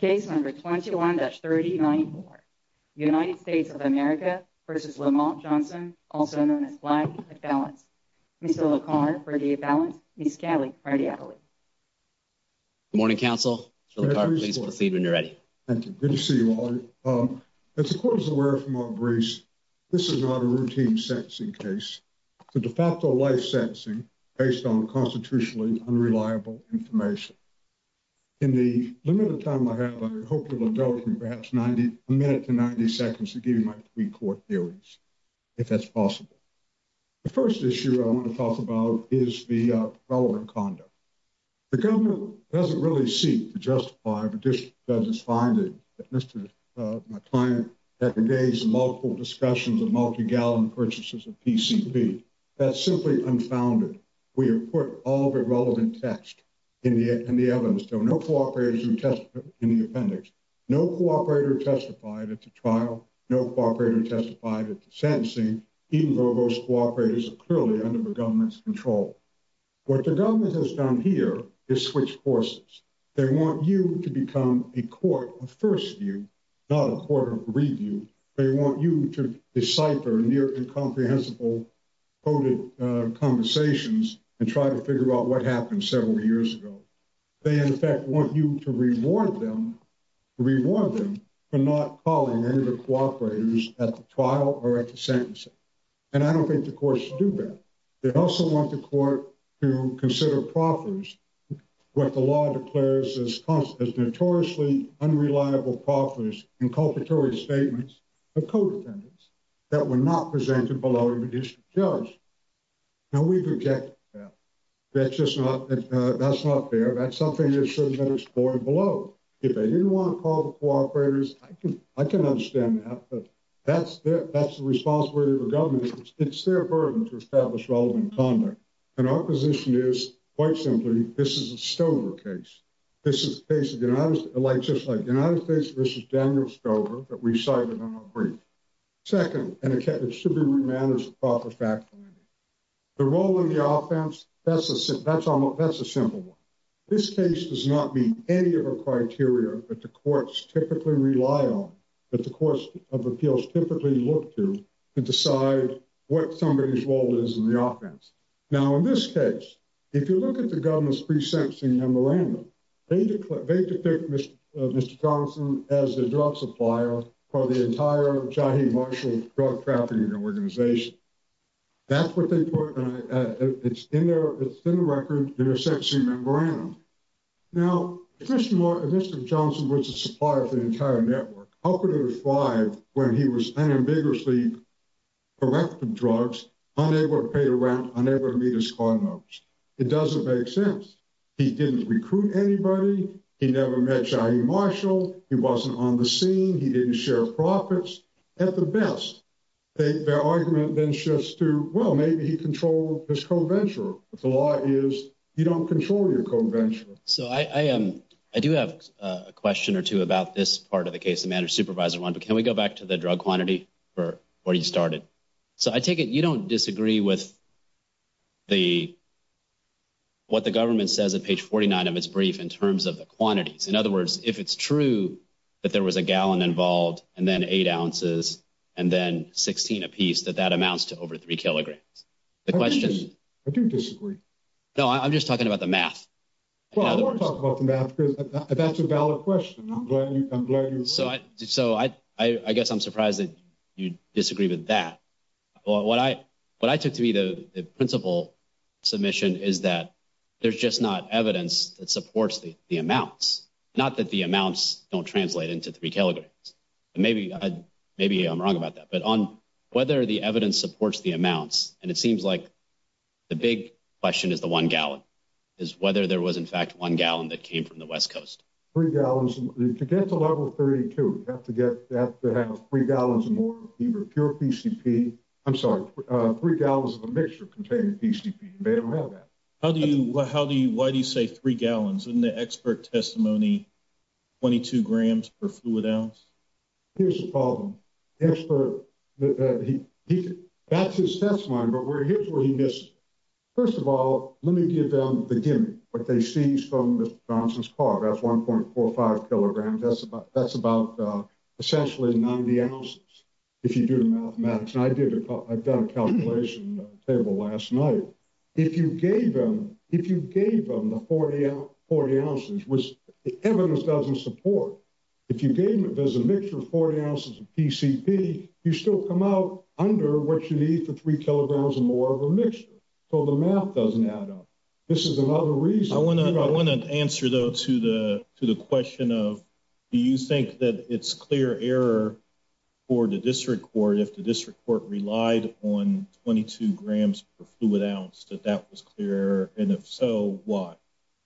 Case number 21-39-4. United States of America v. Lamont Johnson, also known as Black, at balance. Mr. LaCarre, for the at balance. Ms. Scali, for the appellate. Good morning, counsel. Mr. LaCarre, please proceed when you're ready. Thank you. Good to see you all. As the court is aware from our briefs, this is not a routine sentencing case. It's a de facto life sentencing based on constitutionally unreliable information. In the limited time I have, I hope you'll indulge me perhaps 90, a minute to 90 seconds to give you my three court theories, if that's possible. The first issue I want to talk about is the relevant conduct. The government doesn't really seek to justify, but just does its finding that Mr. My client had the days and multiple discussions of multi-gallon purchases of PCP. That's simply unfounded. We have put all the relevant text in the evidence. So no cooperation in the appendix. No cooperator testified at the trial. No cooperator testified at the sentencing, even though those cooperators are clearly under the government's control. What the government has done here is switch forces. They want you to become a court of first view, not a court of review. They want you to decipher near incomprehensible coded conversations and try to figure out what happened several years ago. They, in fact, want you to reward them, reward them for not calling any of the cooperators at the trial or at the sentencing. And I don't think the courts do that. They also want the court to consider profiters. What the law declares is notoriously unreliable profiters, inculpatory statements of codependents that were not presented below the district judge. Now, we've rejected that. That's just not that's not fair. That's something that should have been explored below. If they didn't want to call the cooperators, I can I can understand that. That's the responsibility of the government. It's their burden to establish relevant conduct. And our position is quite simply, this is a Stover case. This is a case of the United States versus Daniel Stover that we cited in our brief. Second, it should be remanded as a proper fact finding. The role of the offense, that's a simple one. This case does not meet any of the criteria that the courts typically rely on, that the courts of appeals typically look to to decide what somebody's role is in the offense. Now, in this case, if you look at the government's pre-sentencing memorandum, they depict Mr. Johnson as the drug supplier for the entire Jahi Marshall drug trafficking organization. That's what they put in there. It's in the record in their sentencing memorandum. Now, if Mr. Johnson was a supplier for the entire network, how could it have thrived when he was unambiguously collecting drugs, unable to pay the rent, unable to meet his card numbers? It doesn't make sense. He didn't recruit anybody. He never met Jahi Marshall. He wasn't on the scene. He didn't share profits. At the best, their argument then shifts to, well, maybe he controlled his co-venturer. But the law is, you don't control your co-venturer. So I do have a question or two about this part of the case, the managed supervisor one. But can we go back to the drug quantity for where you started? So I take it you don't disagree with the what the government says at page 49 of its brief in terms of the quantities. In other words, if it's true that there was a gallon involved and then eight ounces and then 16 apiece, that that amounts to over three kilograms. The question is, I do disagree. No, I'm just talking about the math. Well, I want to talk about the math because that's a valid question. I'm glad you agree. So I guess I'm surprised that you disagree with that. Well, what I what I took to be the principal submission is that there's just not evidence that supports the amounts. Not that the amounts don't translate into three kilograms. Maybe maybe I'm wrong about that. But on whether the evidence supports the amounts. And it seems like the big question is the one gallon is whether there was, in fact, one gallon that came from the West Coast. If you get to level 32, you have to get that to have three gallons more pure PCP. I'm sorry. Three gallons of a mixture containing PCP. They don't have that. How do you how do you why do you say three gallons in the expert testimony? Twenty two grams per fluid ounce. Here's the problem. That's his testimony. But here's what he missed. First of all, let me give them the gimmick. What they see is from Johnson's car. That's one point four or five kilograms. That's about that's about essentially 90 ounces. If you do the mathematics and I did it, I've done a calculation table last night. If you gave them if you gave them the 40, 40 ounces was evidence doesn't support. If you gave me there's a mixture of 40 ounces of PCP. You still come out under what you need for three kilograms or more of a mixture. So the math doesn't add up. This is another reason. I want to I want to answer, though, to the to the question of do you think that it's clear error for the district court? If the district court relied on 22 grams per fluid ounce, that that was clear. And if so, why?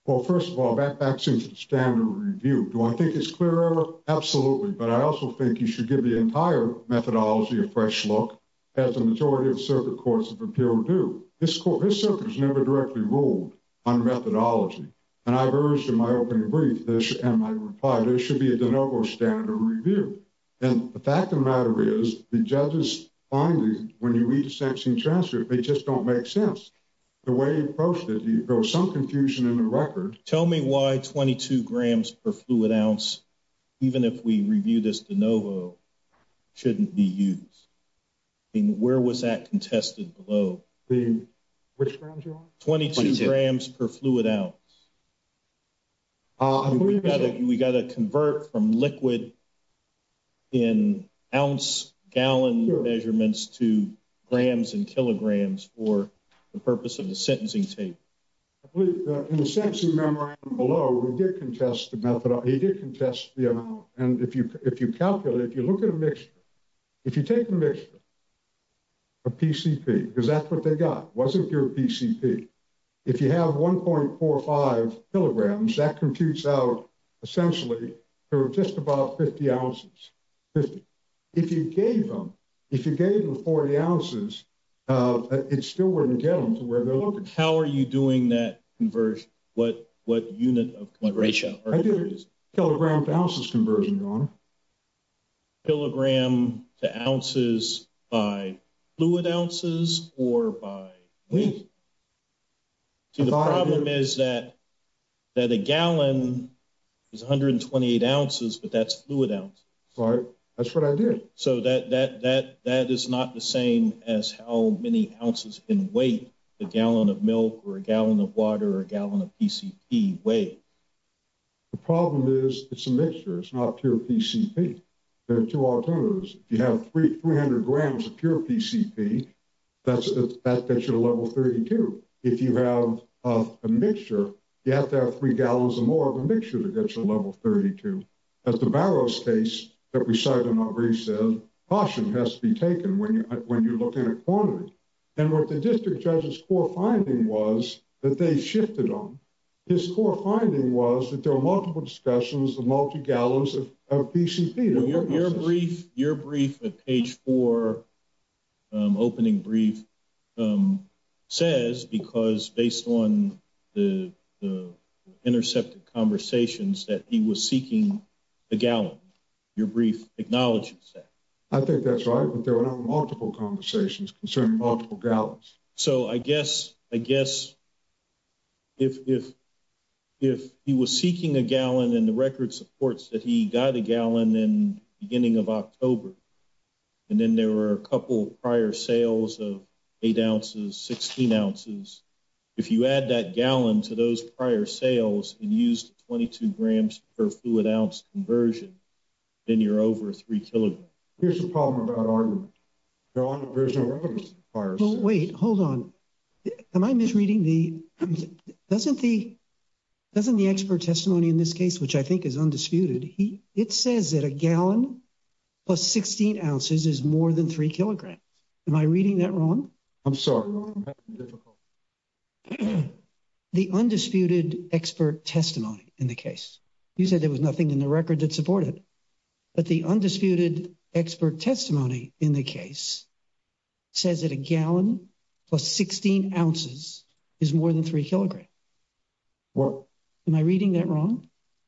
Well, first of all, that seems standard review. Do I think it's clear? Absolutely. But I also think you should give the entire methodology a fresh look. As a majority of circuit courts of appeal do, this court has never directly ruled on methodology. And I've urged in my opening brief this and my reply, there should be a de novo standard review. And the fact of the matter is the judge's findings. When you read the sanctioned transcript, they just don't make sense. The way he approached it, there was some confusion in the record. Tell me why 22 grams per fluid ounce. Even if we review this de novo, shouldn't be used. And where was that contested below the which grounds are 22 grams per fluid ounce? We've got to we've got to convert from liquid. In ounce gallon measurements to grams and kilograms for the purpose of the sentencing tape. In the sense of memory below, we did contest the method. He did contest the amount. And if you if you calculate, if you look at a mixture, if you take a mixture. PCP, is that what they got? Wasn't your PCP? If you have one point four or five kilograms that computes out essentially just about 50 ounces. If you gave them if you gave them 40 ounces, it still wouldn't get them to where they're looking. How are you doing that? What what unit of ratio is kilogram ounces conversion on? Kilogram to ounces by fluid ounces or by weight. The problem is that that a gallon is one hundred and twenty eight ounces, but that's fluid out. So that that that that is not the same as how many ounces in weight. A gallon of milk or a gallon of water, a gallon of PCP weight. The problem is it's a mixture. It's not pure PCP. There are two alternatives. You have three hundred grams of pure PCP. That's the fact that you're level 32. If you have a mixture, you have to have three gallons or more of a mixture to get to level 32. As the Barrow's case that we cite in our brief said, caution has to be taken when you when you look in a corner. And what the district judge's core finding was that they shifted on. His core finding was that there are multiple discussions, the multi gallons of PCP. Your brief, your brief page for opening brief says, because based on the intercepted conversations that he was seeking a gallon, your brief acknowledges that. I think that's right. But there are multiple conversations concerning multiple gallons. So I guess I guess. If if if he was seeking a gallon in the record supports that he got a gallon in the beginning of October. And then there were a couple prior sales of eight ounces, 16 ounces. If you add that gallon to those prior sales and used 22 grams per fluid ounce conversion, then you're over three. Here's the problem. Wait, hold on. Am I misreading the doesn't the. Doesn't the expert testimony in this case, which I think is undisputed, it says that a gallon. Plus 16 ounces is more than three kilograms. Am I reading that wrong? I'm sorry. The undisputed expert testimony in the case you said there was nothing in the record that supported. But the undisputed expert testimony in the case says that a gallon plus 16 ounces is more than three kilograms. What am I reading that wrong?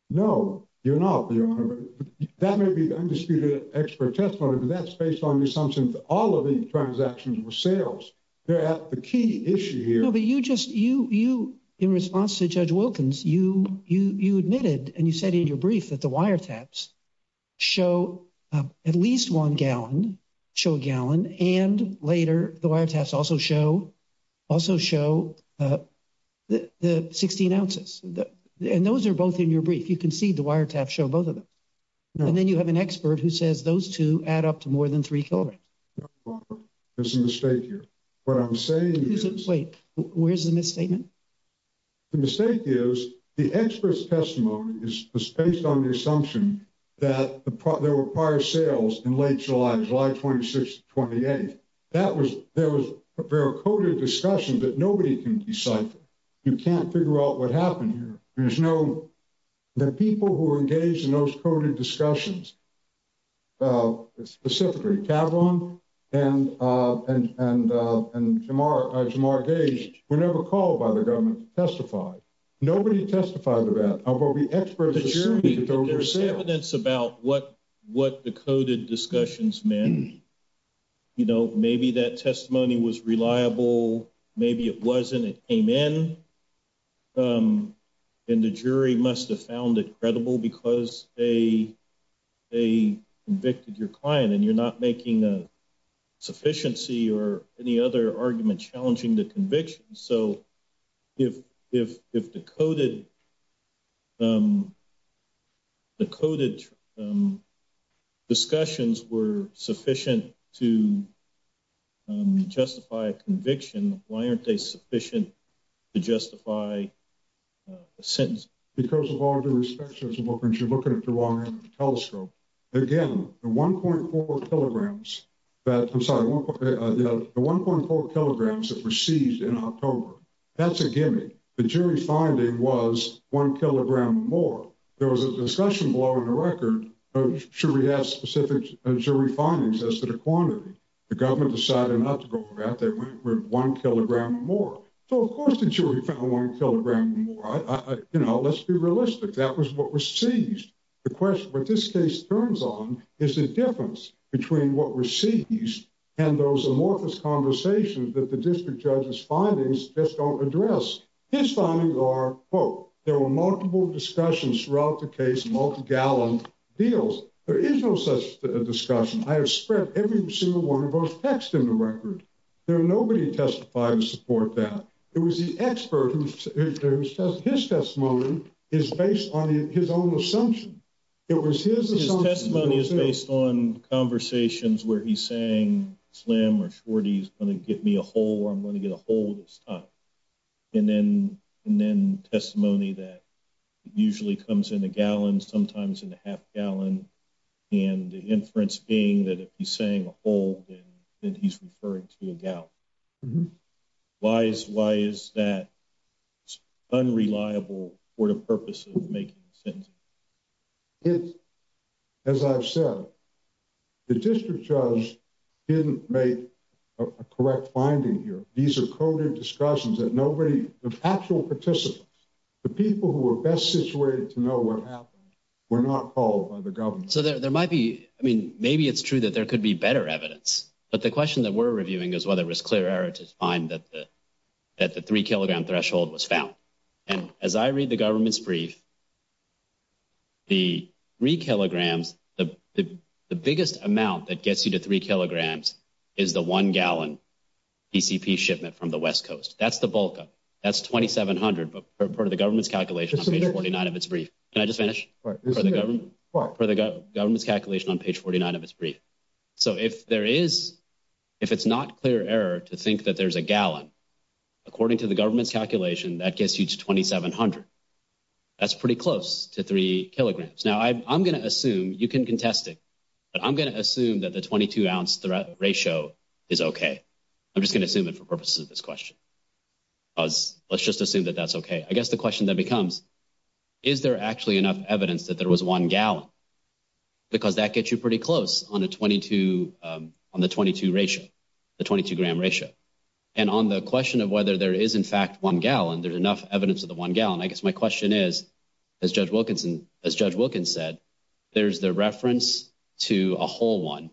No, you're not. That may be undisputed expert testimony, but that's based on the assumption that all of the transactions were sales. They're at the key issue here, but you just you, you, in response to Judge Wilkins, you, you, you admitted and you said in your brief that the wire taps show at least one gallon show gallon. And later, the wire tests also show also show the 16 ounces. And those are both in your brief. You can see the wire tap show both of them. And then you have an expert who says those two add up to more than three kilograms. There's a mistake here. What I'm saying is, wait, where's the misstatement? The mistake is the expert's testimony is based on the assumption that there were prior sales in late July, July 26th, 28th. That was there was a very coded discussion that nobody can decipher. You can't figure out what happened here. There's no. The people who were engaged in those coded discussions. Specifically, and, and, and, and we're never called by the government to testify. Nobody testified about what we experts. There's evidence about what, what the coded discussions, man. You know, maybe that testimony was reliable. Maybe it wasn't. It came in. And the jury must have found it credible because they, they convicted your client and you're not making a sufficiency or any other argument challenging the conviction. So, if, if, if the coded, the coded discussions were sufficient to justify conviction, why aren't they sufficient to justify a sentence? Because of all the inspections, you're looking at the long end of the telescope. Again, the 1.4 kilograms that, I'm sorry, the 1.4 kilograms that were seized in October. That's a gimmick. The jury finding was one kilogram more. There was a discussion below in the record. Should we have specific jury findings as to the quantity? The government decided not to go for that. They went with one kilogram more. So, of course, the jury found one kilogram more. You know, let's be realistic. That was what was seized. The question, what this case turns on is the difference between what was seized and those amorphous conversations that the district judge's findings just don't address. His findings are, quote, there were multiple discussions throughout the case, multi-gallon deals. There is no such discussion. I have spread every single one of those texts in the record. There are nobody testifying to support that. It was the expert whose testimony is based on his own assumption. It was his assumption. His testimony is based on conversations where he's saying, slim or short, he's going to get me a hole or I'm going to get a hole this time. And then testimony that usually comes in a gallon, sometimes in a half gallon, and the inference being that if he's saying a hole, then he's referring to a gallon. Why is that unreliable for the purpose of making a sentencing? It's, as I've said, the district judge didn't make a correct finding here. These are coded discussions that nobody, the actual participants, the people who were best situated to know what happened were not called by the government. So there might be, I mean, maybe it's true that there could be better evidence. But the question that we're reviewing is whether it was clear error to find that the three kilogram threshold was found. And as I read the government's brief, the three kilograms, the biggest amount that gets you to three kilograms is the one gallon PCP shipment from the West Coast. That's the bulk of it. That's $2,700 per the government's calculation on page 49 of its brief. Can I just finish? For the government's calculation on page 49 of its brief. So if there is, if it's not clear error to think that there's a gallon, according to the government's calculation, that gets you to 2,700. That's pretty close to three kilograms. Now, I'm going to assume, you can contest it, but I'm going to assume that the 22 ounce ratio is okay. I'm just going to assume it for purposes of this question. Let's just assume that that's okay. I guess the question then becomes, is there actually enough evidence that there was one gallon? Because that gets you pretty close on the 22 ratio, the 22 gram ratio. And on the question of whether there is, in fact, one gallon, there's enough evidence of the one gallon. I guess my question is, as Judge Wilkinson, as Judge Wilkins said, there's the reference to a whole one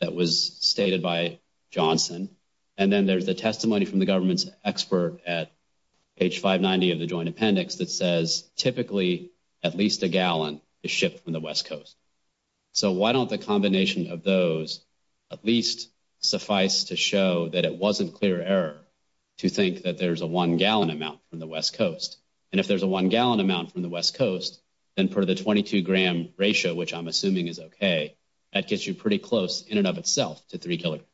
that was stated by Johnson. And then there's the testimony from the government's expert at page 590 of the joint appendix that says, typically, at least a gallon is shipped from the West Coast. So why don't the combination of those at least suffice to show that it wasn't clear error to think that there's a one gallon amount from the West Coast? And if there's a one gallon amount from the West Coast, then per the 22 gram ratio, which I'm assuming is okay, that gets you pretty close in and of itself to 3 kilograms.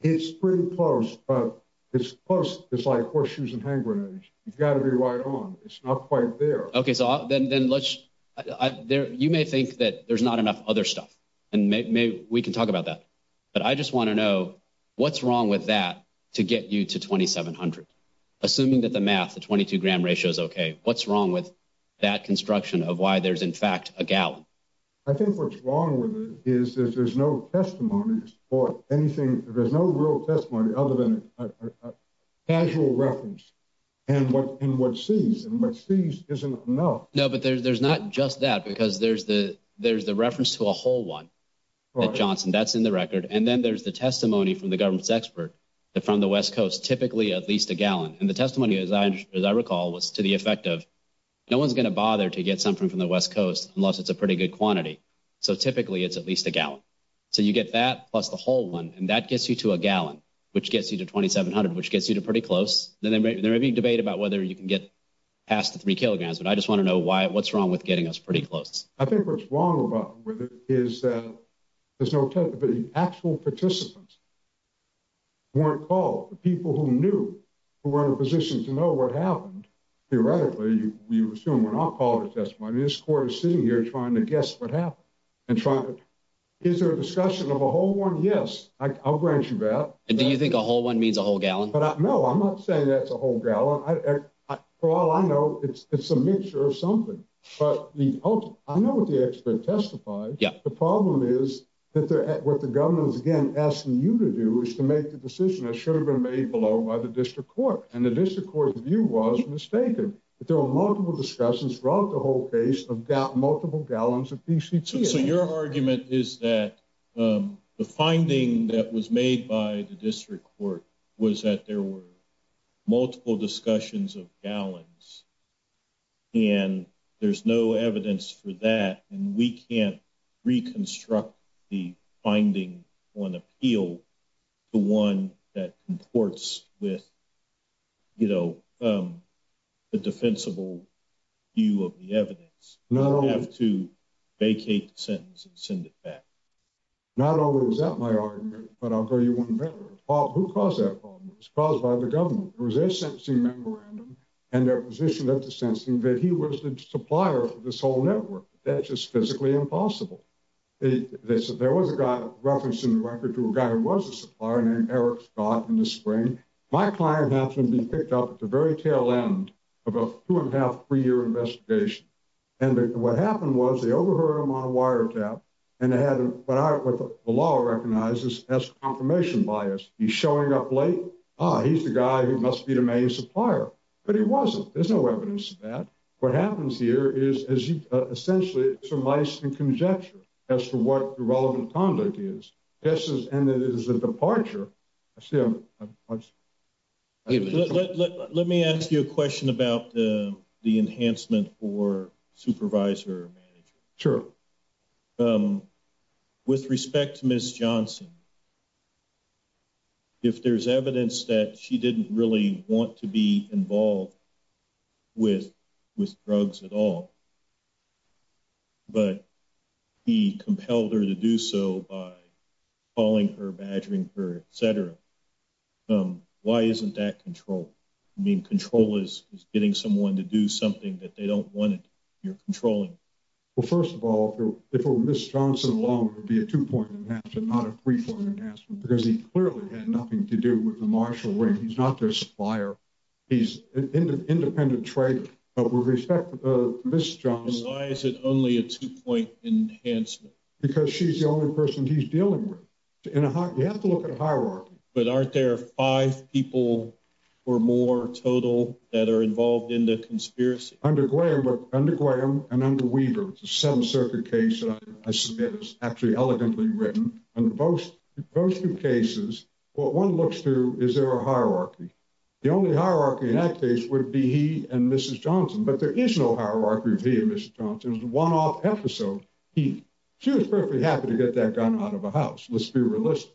It's pretty close, but it's close. It's like horseshoes and hand grenades. You've got to be right on. It's not quite there. Okay, so then let's – you may think that there's not enough other stuff, and maybe we can talk about that. But I just want to know, what's wrong with that to get you to 2,700? Assuming that the math, the 22 gram ratio is okay, what's wrong with that construction of why there's, in fact, a gallon? I think what's wrong with it is that there's no testimony or anything – there's no real testimony other than a casual reference and what sees. And what sees isn't enough. No, but there's not just that, because there's the reference to a whole one that Johnson – that's in the record. And then there's the testimony from the government's expert from the West Coast, typically at least a gallon. And the testimony, as I recall, was to the effect of no one's going to bother to get something from the West Coast unless it's a pretty good quantity. So typically it's at least a gallon. So you get that plus the whole one, and that gets you to a gallon, which gets you to 2,700, which gets you to pretty close. Then there may be a debate about whether you can get past the 3 kilograms, but I just want to know what's wrong with getting us pretty close. I think what's wrong with it is that there's no – the actual participants weren't called, the people who knew, who were in a position to know what happened. Theoretically, you assume we're not called to testimony. This court is sitting here trying to guess what happened and trying to – is there a discussion of a whole one? Yes, I'll grant you that. And do you think a whole one means a whole gallon? No, I'm not saying that's a whole gallon. For all I know, it's a mixture of something. But I know what the expert testified. The problem is that what the government is, again, asking you to do is to make the decision that should have been made below by the district court. And the district court's view was mistaken, that there were multiple discussions throughout the whole case of multiple gallons of PCTA. So your argument is that the finding that was made by the district court was that there were multiple discussions of gallons, and there's no evidence for that, and we can't reconstruct the finding on appeal to one that comports with the defensible view of the evidence. We don't have to vacate the sentence and send it back. Not only was that my argument, but I'll tell you one better. Who caused that problem? It was caused by the government. It was their sentencing memorandum and their position at the sentencing that he was the supplier for this whole network. That's just physically impossible. There was a guy referenced in the record to a guy who was a supplier named Eric Scott in the spring. My client happened to be picked up at the very tail end of a two-and-a-half, three-year investigation. And what happened was they overheard him on a wiretap, and they had what the law recognizes as confirmation bias. He's showing up late. Ah, he's the guy who must be the main supplier. But he wasn't. There's no evidence of that. What happens here is essentially surmised in conjecture as to what the relevant conduct is. Yes, and it is a departure. Let me ask you a question about the enhancement for supervisor or manager. Sure. With respect to Ms. Johnson, if there's evidence that she didn't really want to be involved with drugs at all, but he compelled her to do so by calling her, badgering her, et cetera, why isn't that control? I mean, control is getting someone to do something that they don't want to do. You're controlling. Well, first of all, if it were Ms. Johnson alone, it would be a two-point enhancement, not a three-point enhancement, because he clearly had nothing to do with the Marshall Ring. He's not their supplier. He's an independent trader. But with respect to Ms. Johnson— Why is it only a two-point enhancement? Because she's the only person he's dealing with. You have to look at hierarchy. But aren't there five people or more total that are involved in the conspiracy? Under Graham and under Weaver. It's a Seventh Circuit case that I submit is actually elegantly written. In both two cases, what one looks to is there a hierarchy. The only hierarchy in that case would be he and Mrs. Johnson. But there is no hierarchy of he and Mrs. Johnson. It's a one-off episode. She was perfectly happy to get that gun out of the house, let's be realistic,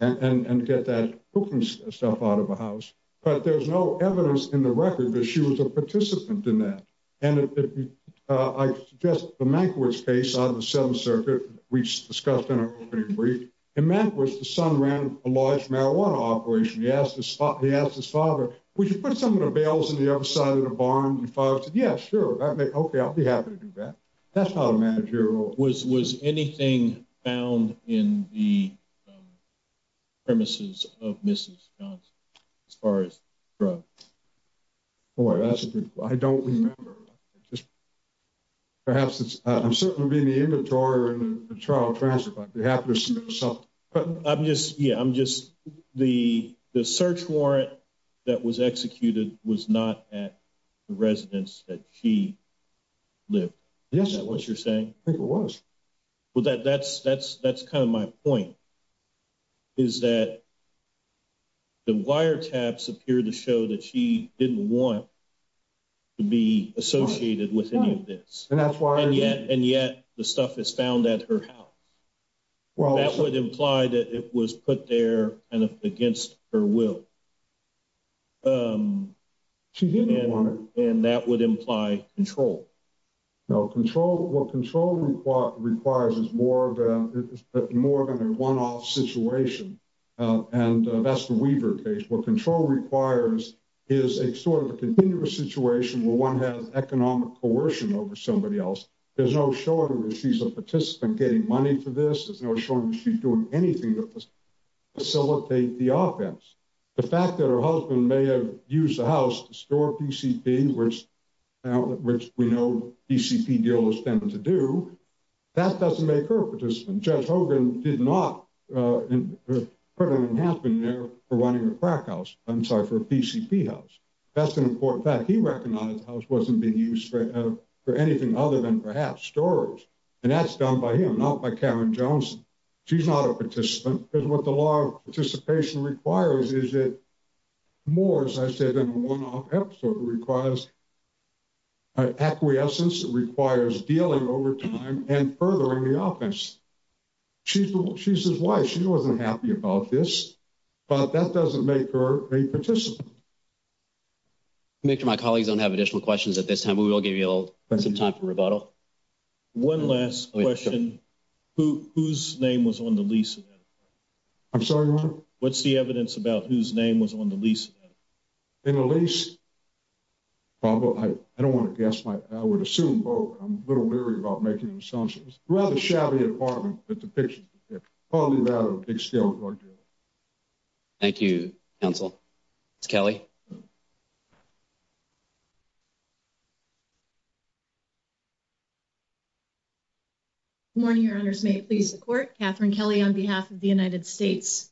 and get that cooking stuff out of the house. But there's no evidence in the record that she was a participant in that. And I suggest the Mankiewicz case out of the Seventh Circuit, which is discussed in a pretty brief. In Mankiewicz, the son ran a large marijuana operation. He asked his father, would you put some of the bales in the other side of the barn? His father said, yeah, sure. Okay, I'll be happy to do that. That's how the managerial— Was anything found in the premises of Mrs. Johnson as far as drugs? Boy, that's a good question. I don't remember. Perhaps it's—I'm certainly in the inventory of the trial transcript. I'd be happy to submit something. Yeah, I'm just—the search warrant that was executed was not at the residence that she lived. Yes, it was. Is that what you're saying? I think it was. Well, that's kind of my point, is that the wiretaps appear to show that she didn't want to be associated with any of this. And yet the stuff is found at her house. That would imply that it was put there kind of against her will. She didn't want it. And that would imply control. No, control—what control requires is more than a one-off situation. And that's the Weaver case. What control requires is a sort of a continuous situation where one has economic coercion over somebody else. There's no showing that she's a participant getting money for this. There's no showing that she's doing anything to facilitate the offense. The fact that her husband may have used the house to store PCP, which we know PCP dealers tend to do, that doesn't make her a participant. Judge Hogan did not—couldn't have been there for running a crack house—I'm sorry, for a PCP house. That's an important fact. He recognized the house wasn't being used for anything other than perhaps storage. And that's done by him, not by Karen Jones. She's not a participant. Because what the law of participation requires is more, as I said, than a one-off episode. It requires acquiescence. It requires dealing over time and furthering the offense. She's his wife. She wasn't happy about this. But that doesn't make her a participant. Commissioner, my colleagues don't have additional questions at this time. We will give you some time for rebuttal. One last question. Whose name was on the lease? I'm sorry, Your Honor? What's the evidence about whose name was on the lease? In the lease? Well, I don't want to guess. I would assume both. I'm a little leery about making assumptions. Rather shabby apartment, the depiction. Probably rather a big scale drug dealer. Thank you, counsel. Ms. Kelly. Good morning, Your Honors. May it please the Court. Katherine Kelly on behalf of the United States.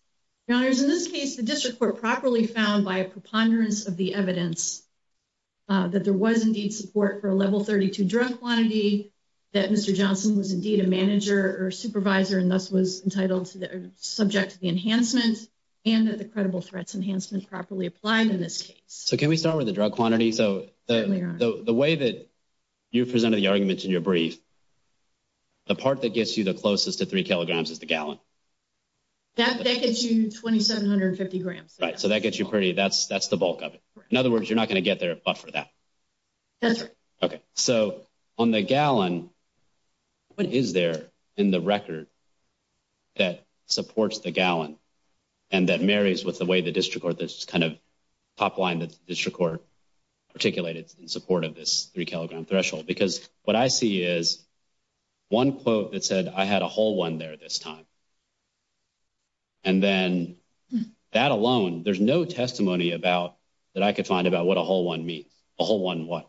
Your Honors, in this case, the District Court properly found by a preponderance of the evidence that there was indeed support for a level 32 drug quantity, that Mr. Johnson was indeed a manager or supervisor and thus was entitled or subject to the enhancement, and that the credible threats enhancement properly applied in this case. So can we start with the drug quantity? Certainly, Your Honor. So the way that you presented the argument in your brief, the part that gets you the closest to three kilograms is the gallon. That gets you 2,750 grams. Right. So that gets you pretty, that's the bulk of it. In other words, you're not going to get there but for that. That's right. Okay. So on the gallon, what is there in the record that supports the gallon and that marries with the way the District Court, this kind of top line that the District Court articulated in support of this three-kilogram threshold? Because what I see is one quote that said, I had a whole one there this time. And then that alone, there's no testimony about, that I could find about what a whole one means. A whole one what?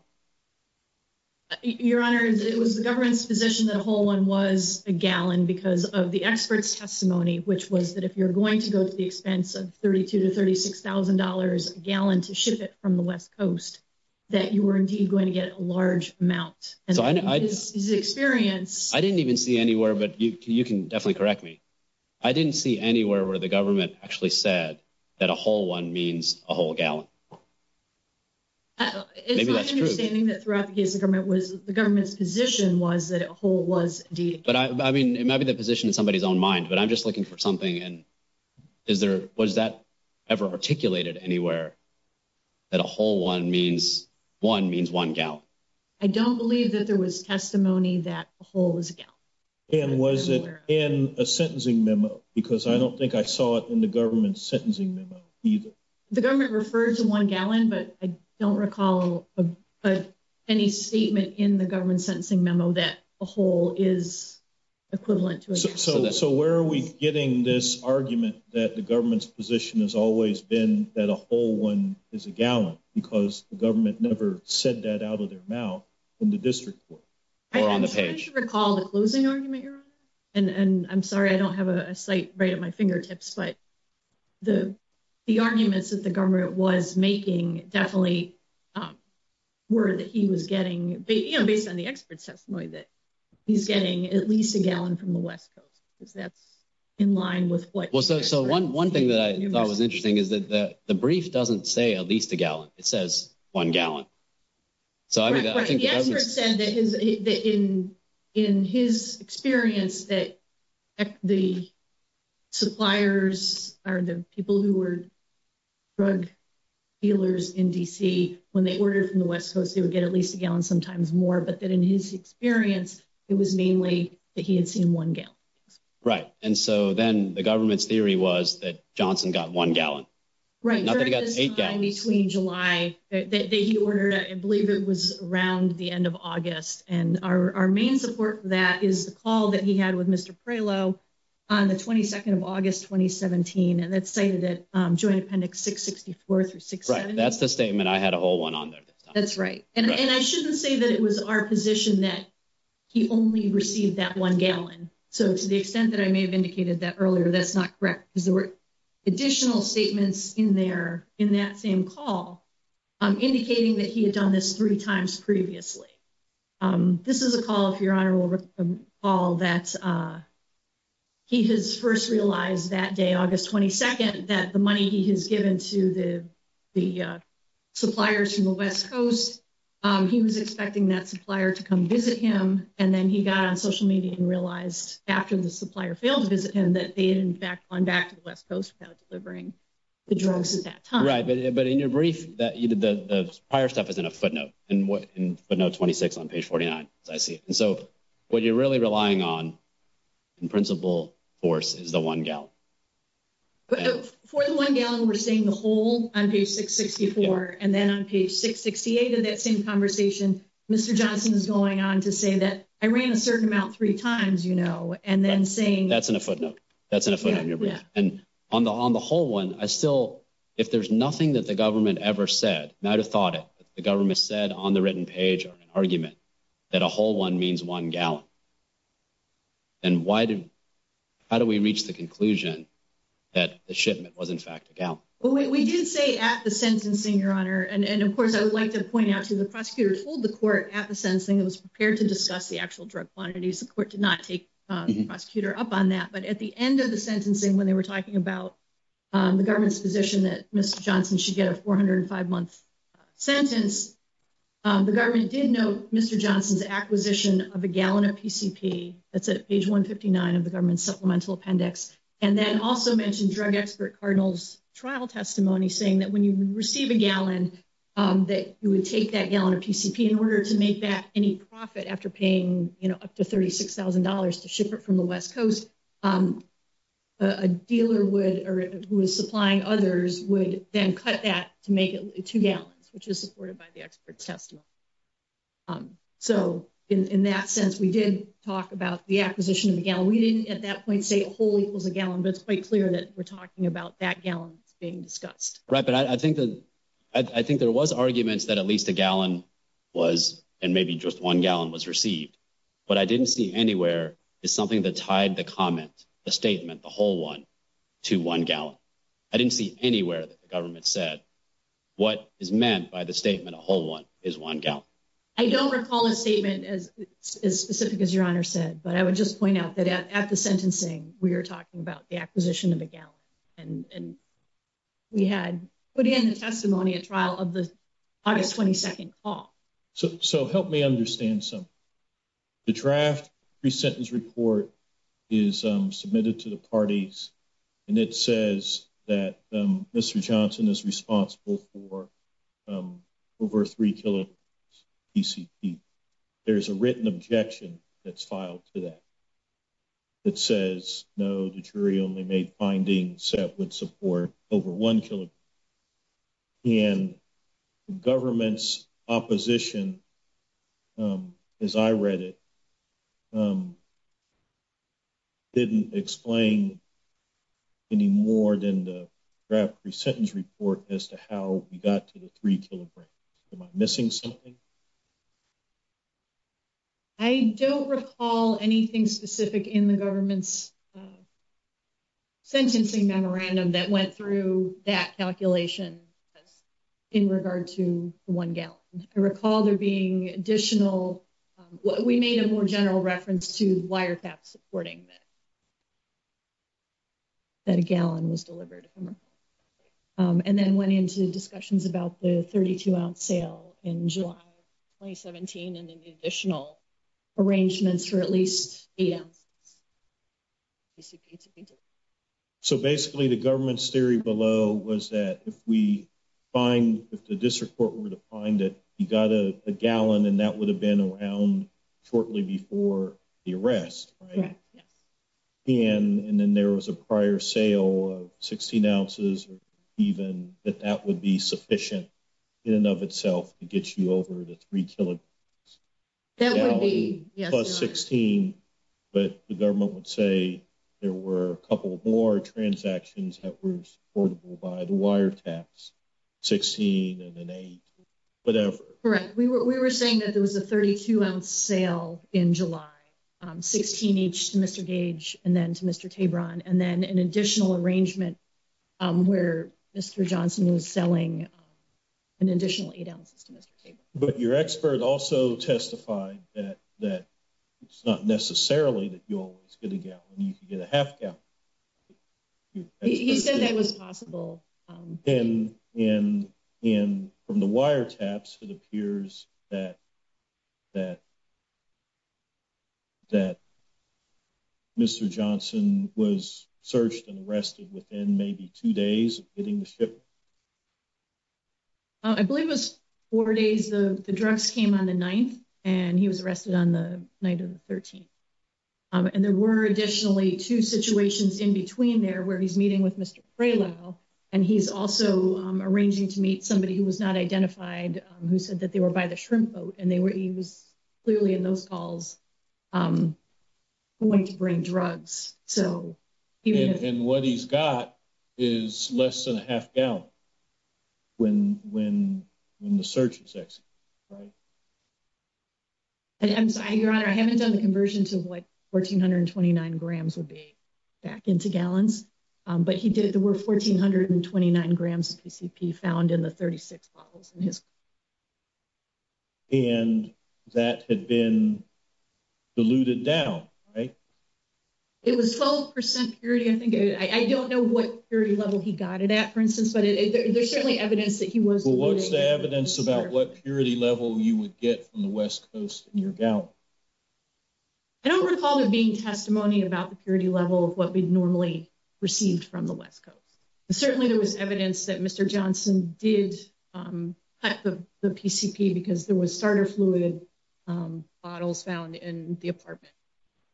Your Honor, it was the government's position that a whole one was a gallon because of the expert's testimony, which was that if you're going to go to the expense of $32,000 to $36,000 a gallon to ship it from the West Coast, that you were indeed going to get a large amount. And his experience. I didn't even see anywhere, but you can definitely correct me. I didn't see anywhere where the government actually said that a whole one means a whole gallon. It's my understanding that throughout the case, the government was the government's position was that a whole was indeed. But I mean, it might be the position of somebody's own mind, but I'm just looking for something. And is there, was that ever articulated anywhere that a whole one means one means one gallon? I don't believe that there was testimony that a whole is a gallon. And was it in a sentencing memo? Because I don't think I saw it in the government's sentencing memo either. The government referred to one gallon, but I don't recall any statement in the government sentencing memo that a whole is equivalent to. So, where are we getting this argument that the government's position has always been that a whole one is a gallon because the government never said that out of their mouth in the district court or on the page recall the closing argument. And I'm sorry, I don't have a site right at my fingertips, but the, the arguments that the government was making definitely were that he was getting based on the expert testimony that he's getting at least a gallon from the West coast. Cause that's in line with what. So one, one thing that I thought was interesting is that the brief doesn't say at least a gallon, it says one gallon. So I mean, I think the expert said that his, that in, in his experience that the suppliers are the people who were drug dealers in DC, when they ordered from the West coast, they would get at least a gallon sometimes more, but that in his experience, it was mainly that he had seen one gallon. Right. And so then the government's theory was that Johnson got one gallon, right? Between July that he ordered, I believe it was around the end of August. And our, our main support for that is the call that he had with Mr. Prelo on the 22nd of August, 2017. And that's saying that joint appendix six 64 through six. That's the statement. I had a whole one on there. That's right. And I shouldn't say that it was our position that he only received that one gallon. So to the extent that I may have indicated that earlier, that's not correct. Cause there were additional statements in there in that same call, indicating that he had done this three times previously. This is a call. If your honor will recall that he has first realized that day, August 22nd, that the money he has given to the, the suppliers from the West coast, he was expecting that supplier to come visit him. And then he got on social media and realized after the supplier failed to visit him, that they had in fact gone back to the West coast without delivering the drugs at that time. Right. But in your brief that you did, the prior stuff is in a footnote and what, but no 26 on page 49. I see. And so what you're really relying on in principle force is the one gallon. For the one gallon. We're saying the whole on page six 64, and then on page six 68 of that same conversation, Mr. Johnson is going on to say that I ran a certain amount three times, you know, and then saying that's in a footnote, that's in a footnote and on the, on the whole one, I still, if there's nothing that the government ever said, not a thought it, but the government said on the written page or an argument that a whole one means one gallon. And why did, how do we reach the conclusion that the shipment was in fact a gal? Well, we did say at the sentencing, your honor. And of course I would like to point out to the prosecutor told the court at the sentencing, it was prepared to discuss the actual drug quantities. The court did not take prosecutor up on that, but at the end of the sentencing, when they were talking about the government's position that Mr. Johnson should get a 405 month sentence, the government did know Mr. Johnson's acquisition of a gallon of PCP. That's at page one 59 of the government supplemental appendix. And then also mentioned drug expert Cardinals trial testimony saying that when you receive a gallon that you would take that gallon of PCP in order to make that any profit after paying up to $36,000 to ship it from the West coast. A dealer would, or who is supplying others would then cut that to make it two gallons, which is supported by the expert's testimony. So in that sense, we did talk about the acquisition of the gallon. We didn't at that point say a whole equals a gallon, but it's quite clear that we're talking about that gallon being discussed. Right. But I think that, I think there was arguments that at least a gallon was, and maybe just one gallon was received, but I didn't see anywhere is something that tied the comment, the statement, the whole one to one gallon. I didn't see anywhere that the government said what is meant by the statement. A whole one is one gallon. I don't recall a statement as specific as your honor said, but I would just point out that at the sentencing, we were talking about the acquisition of a gallon and we had put in the testimony at trial of the August 22nd call. So, so help me understand some. The draft pre-sentence report is submitted to the parties and it says that Mr. Johnson is responsible for over three kilograms PCP. There's a written objection that's filed to that. It says, no, the jury only made findings set with support over one kilogram. And the government's opposition, as I read it, didn't explain any more than the draft pre-sentence report as to how we got to the three kilograms. Am I missing something? I don't recall anything specific in the government's sentencing memorandum that went through that calculation in regard to one gallon. I recall there being additional, we made a more general reference to wiretap supporting that. That a gallon was delivered. And then went into discussions about the 32 ounce sale in July, 2017. And then the additional arrangements for at least. So basically the government's theory below was that if we find, if the district court were to find it, you got a gallon and that would have been around shortly before the arrest. And then there was a prior sale of 16 ounces, or even that that would be sufficient in and of itself to get you over the three kilograms. Plus 16, but the government would say there were a couple of more transactions that were portable by the wiretaps, 16 and an eight, whatever. We were saying that there was a 32 ounce sale in July, 16 each to Mr. Gage and then to Mr. Tabron and then an additional arrangement where Mr. Johnson was selling an additional eight ounces to Mr. Gage. And then the government would say, you know, it's not necessarily that you always get a gallon. You can get a half gallon. He said that was possible. And in, in from the wiretaps, it appears that, that, that Mr. Johnson was searched and arrested within maybe two days of getting the ship. I believe it was four days. The drugs came on the ninth and he was arrested on the night of the 13th. And there were additionally two situations in between there where he's meeting with Mr. And he's also arranging to meet somebody who was not identified who said that they were by the shrimp boat. And they were, he was clearly in those calls going to bring drugs. And what he's got is less than a half gallon. When, when, when the search is, right. And I'm sorry, your honor, I haven't done the conversion to what 1429 grams would be back into gallons. But he did, there were 1429 grams of PCP found in the 36 bottles in his. And that had been diluted down. Right. It was 12% purity. I think I, I don't know what your level he got it at, for instance, but there's certainly evidence that he was, what's the evidence about what purity level you would get from the West coast. And you're down. I don't recall there being testimony about the purity level of what we'd normally received from the West coast. And certainly there was evidence that Mr. Johnson did at the, the PCP, because there was starter fluid bottles found in the apartment.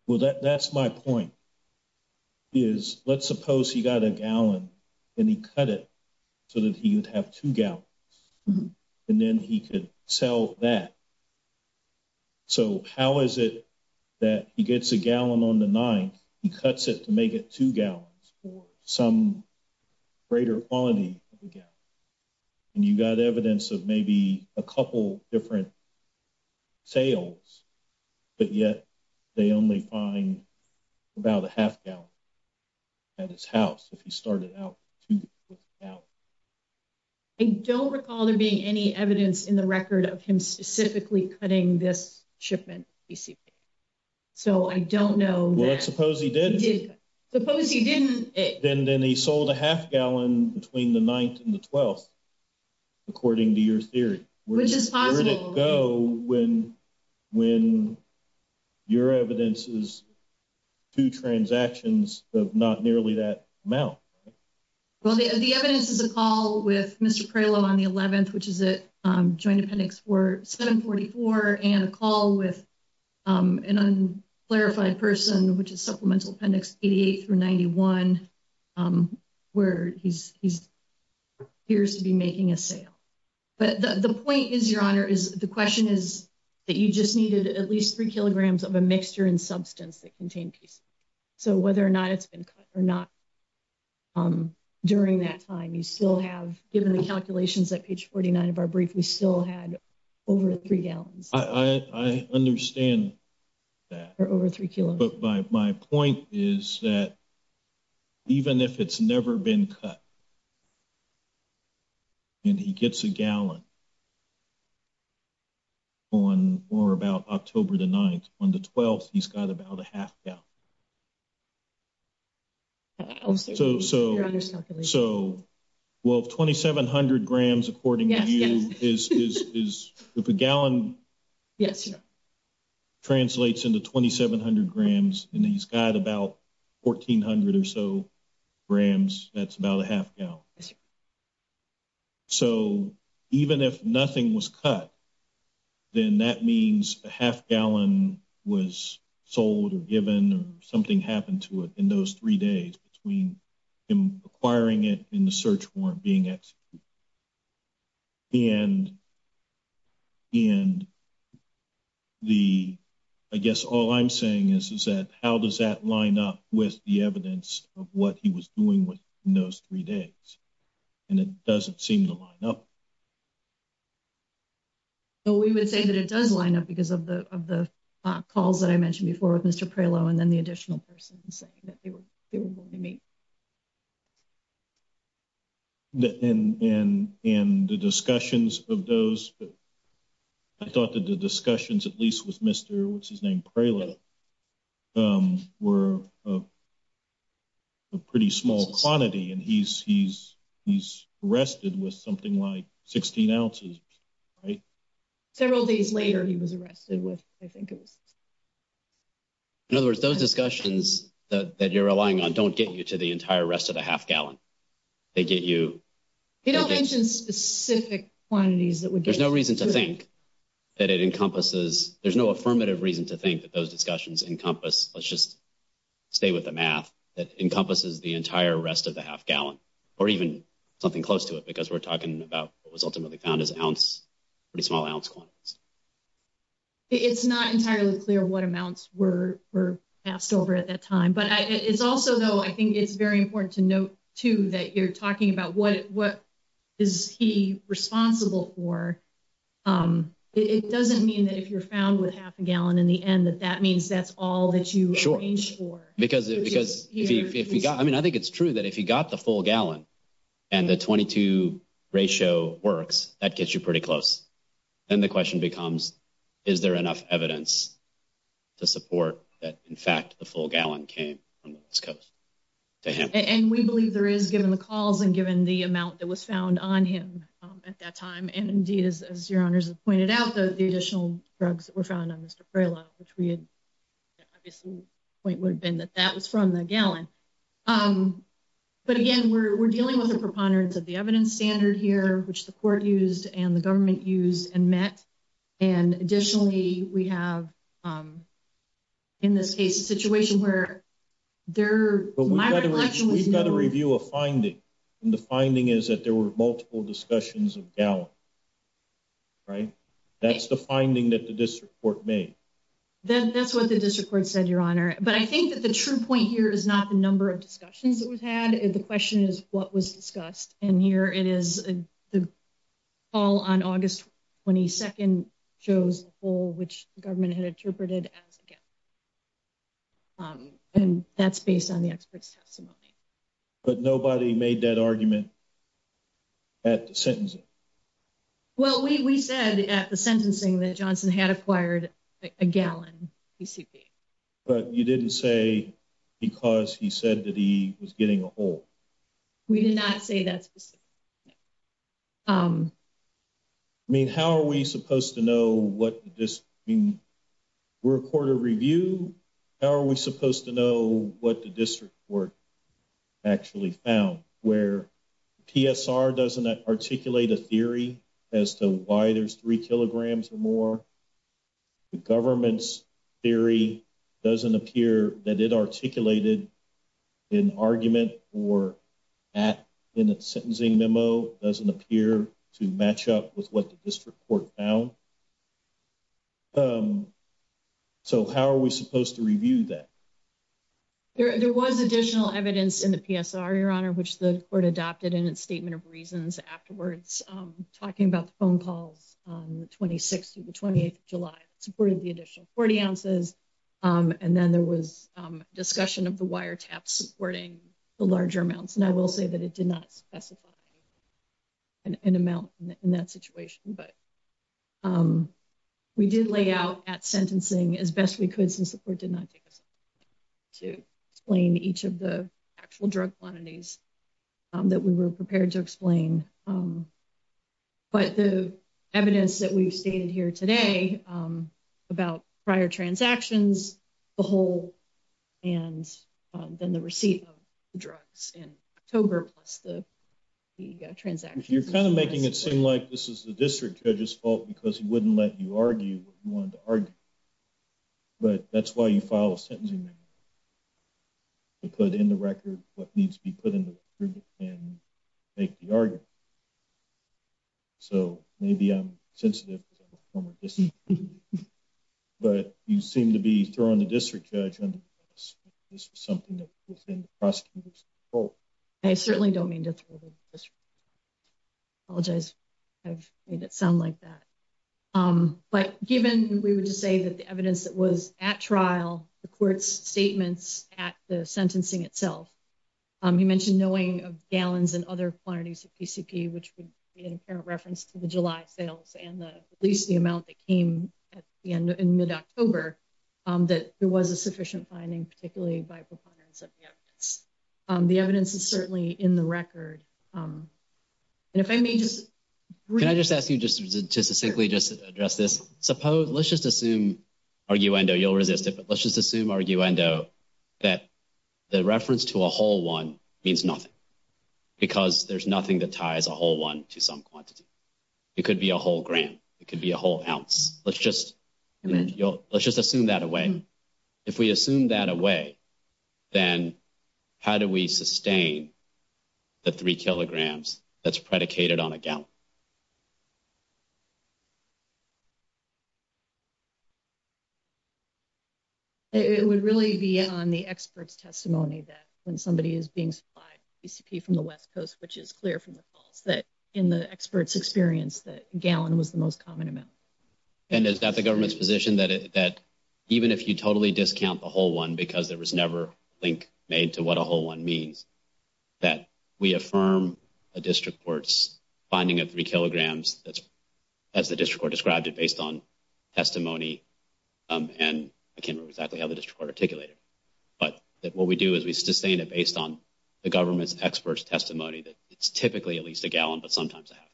I don't recall that. I think it was a gallon on the ninth. Well, that's my point. Is let's suppose he got a gallon. And he cut it. So that he would have to go. And then he could sell that. So how is it. That he gets a gallon on the nine, he cuts it to make it two gallons for some. Greater quality. And you got evidence of maybe a couple different. Sales. But yet, they only find about a half gallon. At his house, if he started out. I don't recall there being any evidence in the record of him specifically cutting this shipment. So, I don't know. Let's suppose he did. Suppose he didn't. Then, then he sold a half gallon between the ninth and the 12th. According to your theory, which is. Go when, when. Your evidence is. Two transactions of not nearly that amount. Well, the evidence is a call with Mr. Prelo on the 11th, which is a joint appendix for 744 and a call with. An unclarified person, which is supplemental appendix 88 through 91. Where he's, he's. Here's to be making a sale. But the point is, your honor is the question is. That you just needed at least 3 kilograms of a mixture and substance that contained. So, whether or not it's been cut or not. During that time, you still have given the calculations that page 49 of our brief, we still had over 3 gallons. I understand. That are over 3 kilos, but my, my point is that. Even if it's never been cut. And he gets a gallon. On or about October, the 9th on the 12th, he's got about a half now. So, so, so. Well, 2700 grams, according to you is, is, is the gallon. Yes. Translates into 2700 grams and he's got about. 1400 or so. Rams, that's about a half gallon. So, even if nothing was cut. Then that means a half gallon was sold or given, or something happened to it in those 3 days between. In acquiring it in the search warrant being executed. And. And. The. I guess all I'm saying is, is that how does that line up with the evidence of what he was doing with? In those 3 days. And it doesn't seem to line up. But we would say that it does line up because of the, of the calls that I mentioned before with Mr. And then the additional person saying that they were, they were going to meet. And, and, and the discussions of those. I thought that the discussions, at least with Mr, what's his name? Mr. Praline. Um, we're. A pretty small quantity and he's, he's, he's arrested with something like 16 ounces. Right. Several days later, he was arrested with, I think it was. In other words, those discussions that you're relying on, don't get you to the entire rest of the half gallon. They get you. They don't mention specific quantities that would, there's no reason to think. That it encompasses, there's no affirmative reason to think that those discussions encompass. Let's just. Stay with the math that encompasses the entire rest of the half gallon. Or even something close to it, because we're talking about what was ultimately found as an ounce. Pretty small ounce quantities. It's not entirely clear what amounts were, were passed over at that time, but it's also though, I think it's very important to note too, that you're talking about what, what. Is he responsible for? It doesn't mean that if you're found with half a gallon in the end, that that means that's all that you. Sure. Because, because if you got, I mean, I think it's true that if you got the full gallon and the 22 ratio works, that gets you pretty close. And the question becomes, is there enough evidence to support that? In fact, the full gallon came to him and we believe there is given the calls and given the amount that was found on him at that time. And indeed, as your honors have pointed out, the additional drugs that were found on Mr. Very low, which we had obviously point would have been that that was from the gallon. But again, we're, we're dealing with a preponderance of the evidence standard here, which the court used and the government used and met. And additionally, we have in this case, a situation where there. We've got a review of finding. And the finding is that there were multiple discussions of gallon. Right. That's the finding that the district court may. Then that's what the district court said, your honor. But I think that the true point here is not the number of discussions that we've had. The question is what was discussed in here. It is. All on August 22nd shows full, which the government had interpreted as. And that's based on the expert's testimony. But nobody made that argument. At the sentence. Well, we, we said at the sentencing that Johnson had acquired a gallon. But you didn't say because he said that he was getting a whole. We did not say that. I mean, how are we supposed to know what this mean? We're a quarter review. How are we supposed to know what the district work? Actually found where. PSR doesn't articulate a theory. As to why there's three kilograms or more. The government's theory doesn't appear that it articulated. In argument or at in a sentencing memo, doesn't appear to match up with what the district court found. how are we supposed to review that? There was additional evidence in the PSR, your honor, which the court adopted in its statement of reasons afterwards, talking about the phone calls on the 26th, the 28th of July supported the additional 40 ounces. And then there was discussion of the wire tap supporting the larger amounts. And I will say that it did not specify an amount in that situation, but. We did lay out at sentencing as best we could since the court did not take us. To explain each of the actual drug quantities. That we were prepared to explain. But the evidence that we've stated here today about prior transactions, the whole. And then the receipt of drugs in October, plus the. The transaction, you're kind of making it seem like this is the district judges fault because he wouldn't let you argue what you wanted to argue. But that's why you file a sentencing. We put in the record, what needs to be put in the. And make the argument. So maybe I'm sensitive. But you seem to be throwing the district judge. This was something that was in. I certainly don't mean to. Apologize. I've made it sound like that. But given, we would just say that the evidence that was at trial, the court's statements at the sentencing itself. He mentioned knowing of gallons and other quantities of PCP, which would be an apparent reference to the July sales and the, at least the amount that came at the end in mid October. That there was a sufficient finding, particularly by. The evidence is certainly in the record. And if I may just. Can I just ask you just to simply just address this? Suppose let's just assume. You'll resist it, but let's just assume. That the reference to a whole one means nothing. Because there's nothing that ties a whole one to some quantity. It could be a whole gram. It could be a whole ounce. Let's just let's just assume that away. If we assume that away. Then how do we sustain? The three kilograms that's predicated on a gallon. And how do we sustain that? It would really be on the experts testimony that when somebody is being supplied. PCP from the West Coast, which is clear from the calls that. In the experts experience that gallon was the most common amount. And is that the government's position that that. Even if you totally discount the whole one, because there was never link. Made to what a whole one means. That we affirm a district court's finding of three kilograms. That's as the district court described it based on testimony. And I can't remember exactly how the district court articulated. But that what we do is we sustain it based on the government's experts testimony. That it's typically at least a gallon, but sometimes a half.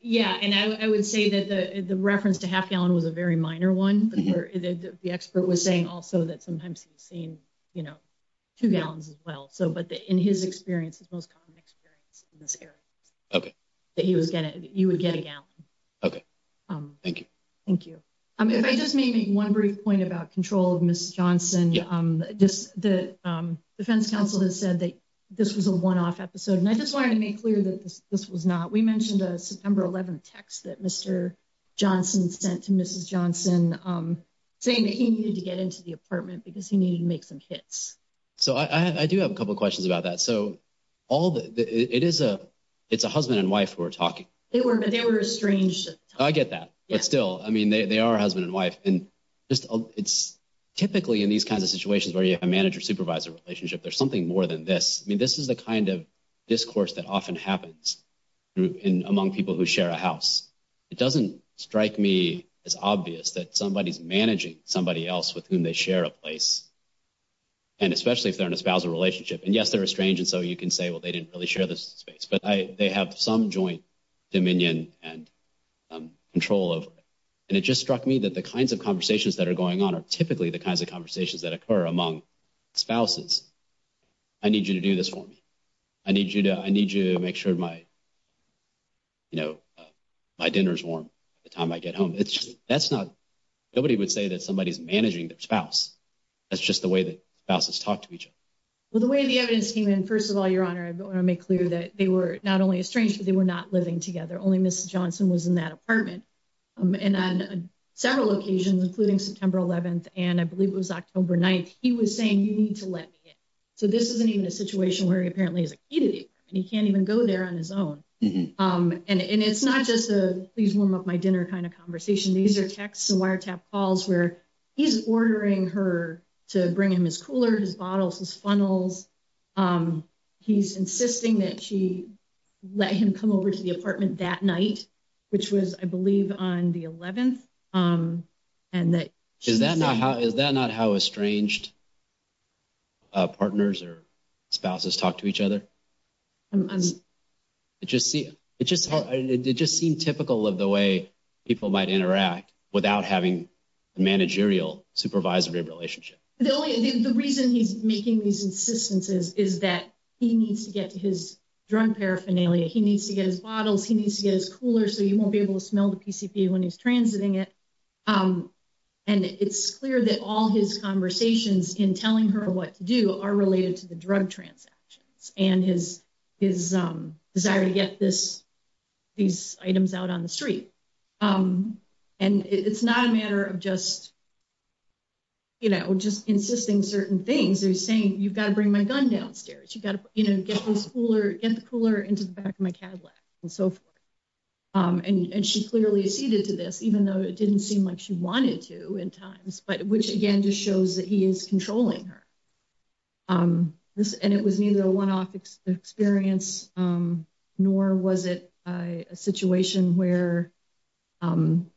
Yeah, and I would say that the reference to half gallon was a very minor one. The expert was saying also that sometimes he's seen, you know. Two gallons as well. So, but in his experience, his most common experience in this area. Okay, that he was going to you would get a gallon. Okay. Thank you. Thank you. If I just may make one brief point about control of Miss Johnson. Just the defense counsel has said that this was a one-off episode. And I just wanted to make clear that this was not. We mentioned a September 11 text that Mr. Johnson sent to Mrs. Johnson. Saying that he needed to get into the apartment because he needed to make some hits. So, I do have a couple of questions about that. So, all the, it is a, it's a husband and wife who are talking. They were, but they were estranged. I get that. But still, I mean, they are husband and wife. And just, it's typically in these kinds of situations where you have a manager-supervisor relationship. There's something more than this. I mean, this is the kind of discourse that often happens among people who share a house. It doesn't strike me as obvious that somebody's managing somebody else with whom they share a place. And especially if they're in a spousal relationship. And yes, they're estranged, and so you can say, well, they didn't really share this space. But they have some joint dominion and control over it. And it just struck me that the kinds of conversations that are going on are typically the kinds of conversations that occur among spouses. I need you to do this for me. I need you to, I need you to make sure my, you know, my dinner's warm by the time I get home. It's just, that's not, nobody would say that somebody's managing their spouse. That's just the way that spouses talk to each other. So when the evidence came in, first of all, Your Honor, I want to make clear that they were not only estranged, but they were not living together. Only Mrs. Johnson was in that apartment. And on several occasions, including September 11th, and I believe it was October 9th, he was saying, you need to let me in. So this isn't even a situation where he apparently has a key to the apartment. He can't even go there on his own. And it's not just a please warm up my dinner kind of conversation. These are texts and wiretap calls where he's ordering her to bring him his cooler, his bottles, his funnels. He's insisting that she let him come over to the apartment that night, which was, I believe, on the 11th. Is that not how estranged partners or spouses talk to each other? It just seemed typical of the way people might interact without having a managerial supervisory relationship. The reason he's making these insistences is that he needs to get to his drug paraphernalia. He needs to get his bottles. He needs to get his cooler so he won't be able to smell the PCP when he's transiting it. And it's clear that all his conversations in telling her what to do are related to the drug transactions and his desire to get these items out on the street. And it's not a matter of just insisting certain things. He's saying, you've got to bring my gun downstairs. You've got to get the cooler into the back of my Cadillac and so forth. And she clearly acceded to this, even though it didn't seem like she wanted to at times, which again just shows that he is controlling her. And it was neither a one-off experience nor was it a situation where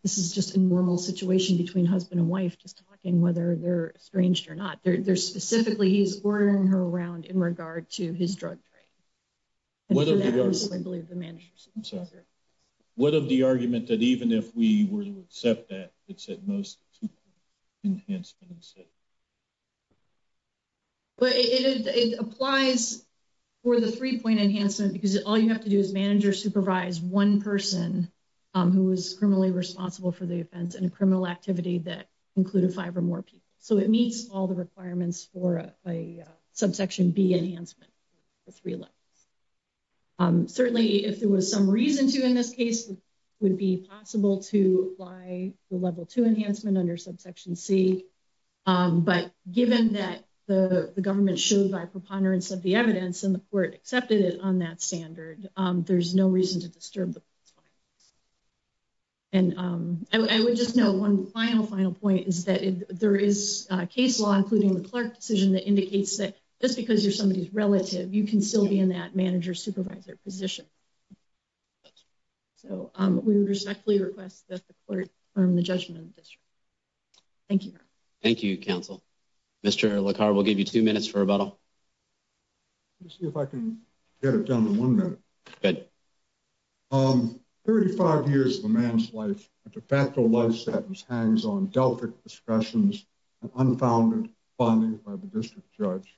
this is just a normal situation between husband and wife just talking whether they're estranged or not. They're specifically, he's ordering her around in regard to his drug trade. And that was, I believe, the managerial supervisory relationship. What of the argument that even if we were to accept that, it's at most a two-point enhancement instead? But it applies for the three-point enhancement because all you have to do is manager supervise one person who is criminally responsible for the offense and a criminal activity that included five or more people. So it meets all the requirements for a subsection B enhancement for three levels. Certainly, if there was some reason to in this case, it would be possible to apply the level two enhancement under subsection C. But given that the government showed by preponderance of the evidence and the court accepted it on that standard, there's no reason to disturb the client. And I would just know one final, final point is that there is a case law, including the Clark decision, that indicates that just because you're somebody's relative, you can still be in that manager supervisor position. So we would respectfully request that the court affirm the judgment of the district. Thank you. Thank you, counsel. Mr. LaCar, we'll give you two minutes for rebuttal. Let me see if I can get it done in one minute. Good. Thirty-five years of a man's life, a de facto life sentence hangs on Delphic discussions and unfounded findings by the district judge.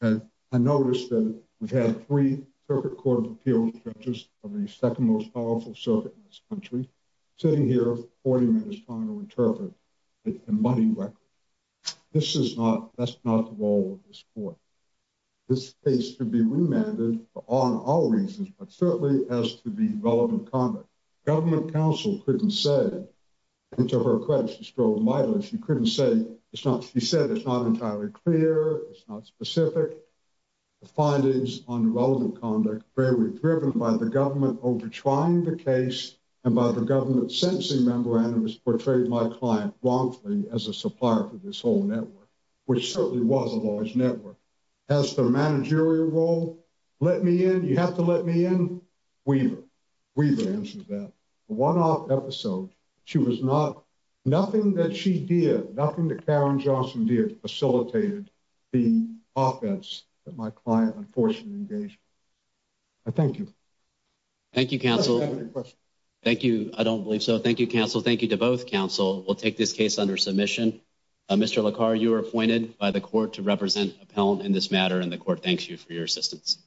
And I noticed that we've had three Circuit Court of Appeals judges of the second most powerful circuit in this country for 40 minutes trying to interpret a money record. This is not, that's not the role of this court. This case could be remanded for all and all reasons, but certainly as to the relevant conduct. Government counsel couldn't say, and to her credit she strove mightily, she couldn't say it's not, she said it's not entirely clear. It's not specific. The findings on relevant conduct, very driven by the government over trying the case and by the government sentencing memorandum, has portrayed my client wrongfully as a supplier for this whole network, which certainly was a large network. Has the managerial role let me in? You have to let me in? Weaver, Weaver answered that. The one-off episode, she was not, nothing that she did, nothing that Karen Johnson did facilitated the offense that my client unfortunately engaged with. I thank you. Thank you, counsel. Thank you. I don't believe so. Thank you, counsel. Thank you to both counsel. We'll take this case under submission. Mr. LaCar, you are appointed by the court to represent Appellant in this matter and the court thanks you for your assistance.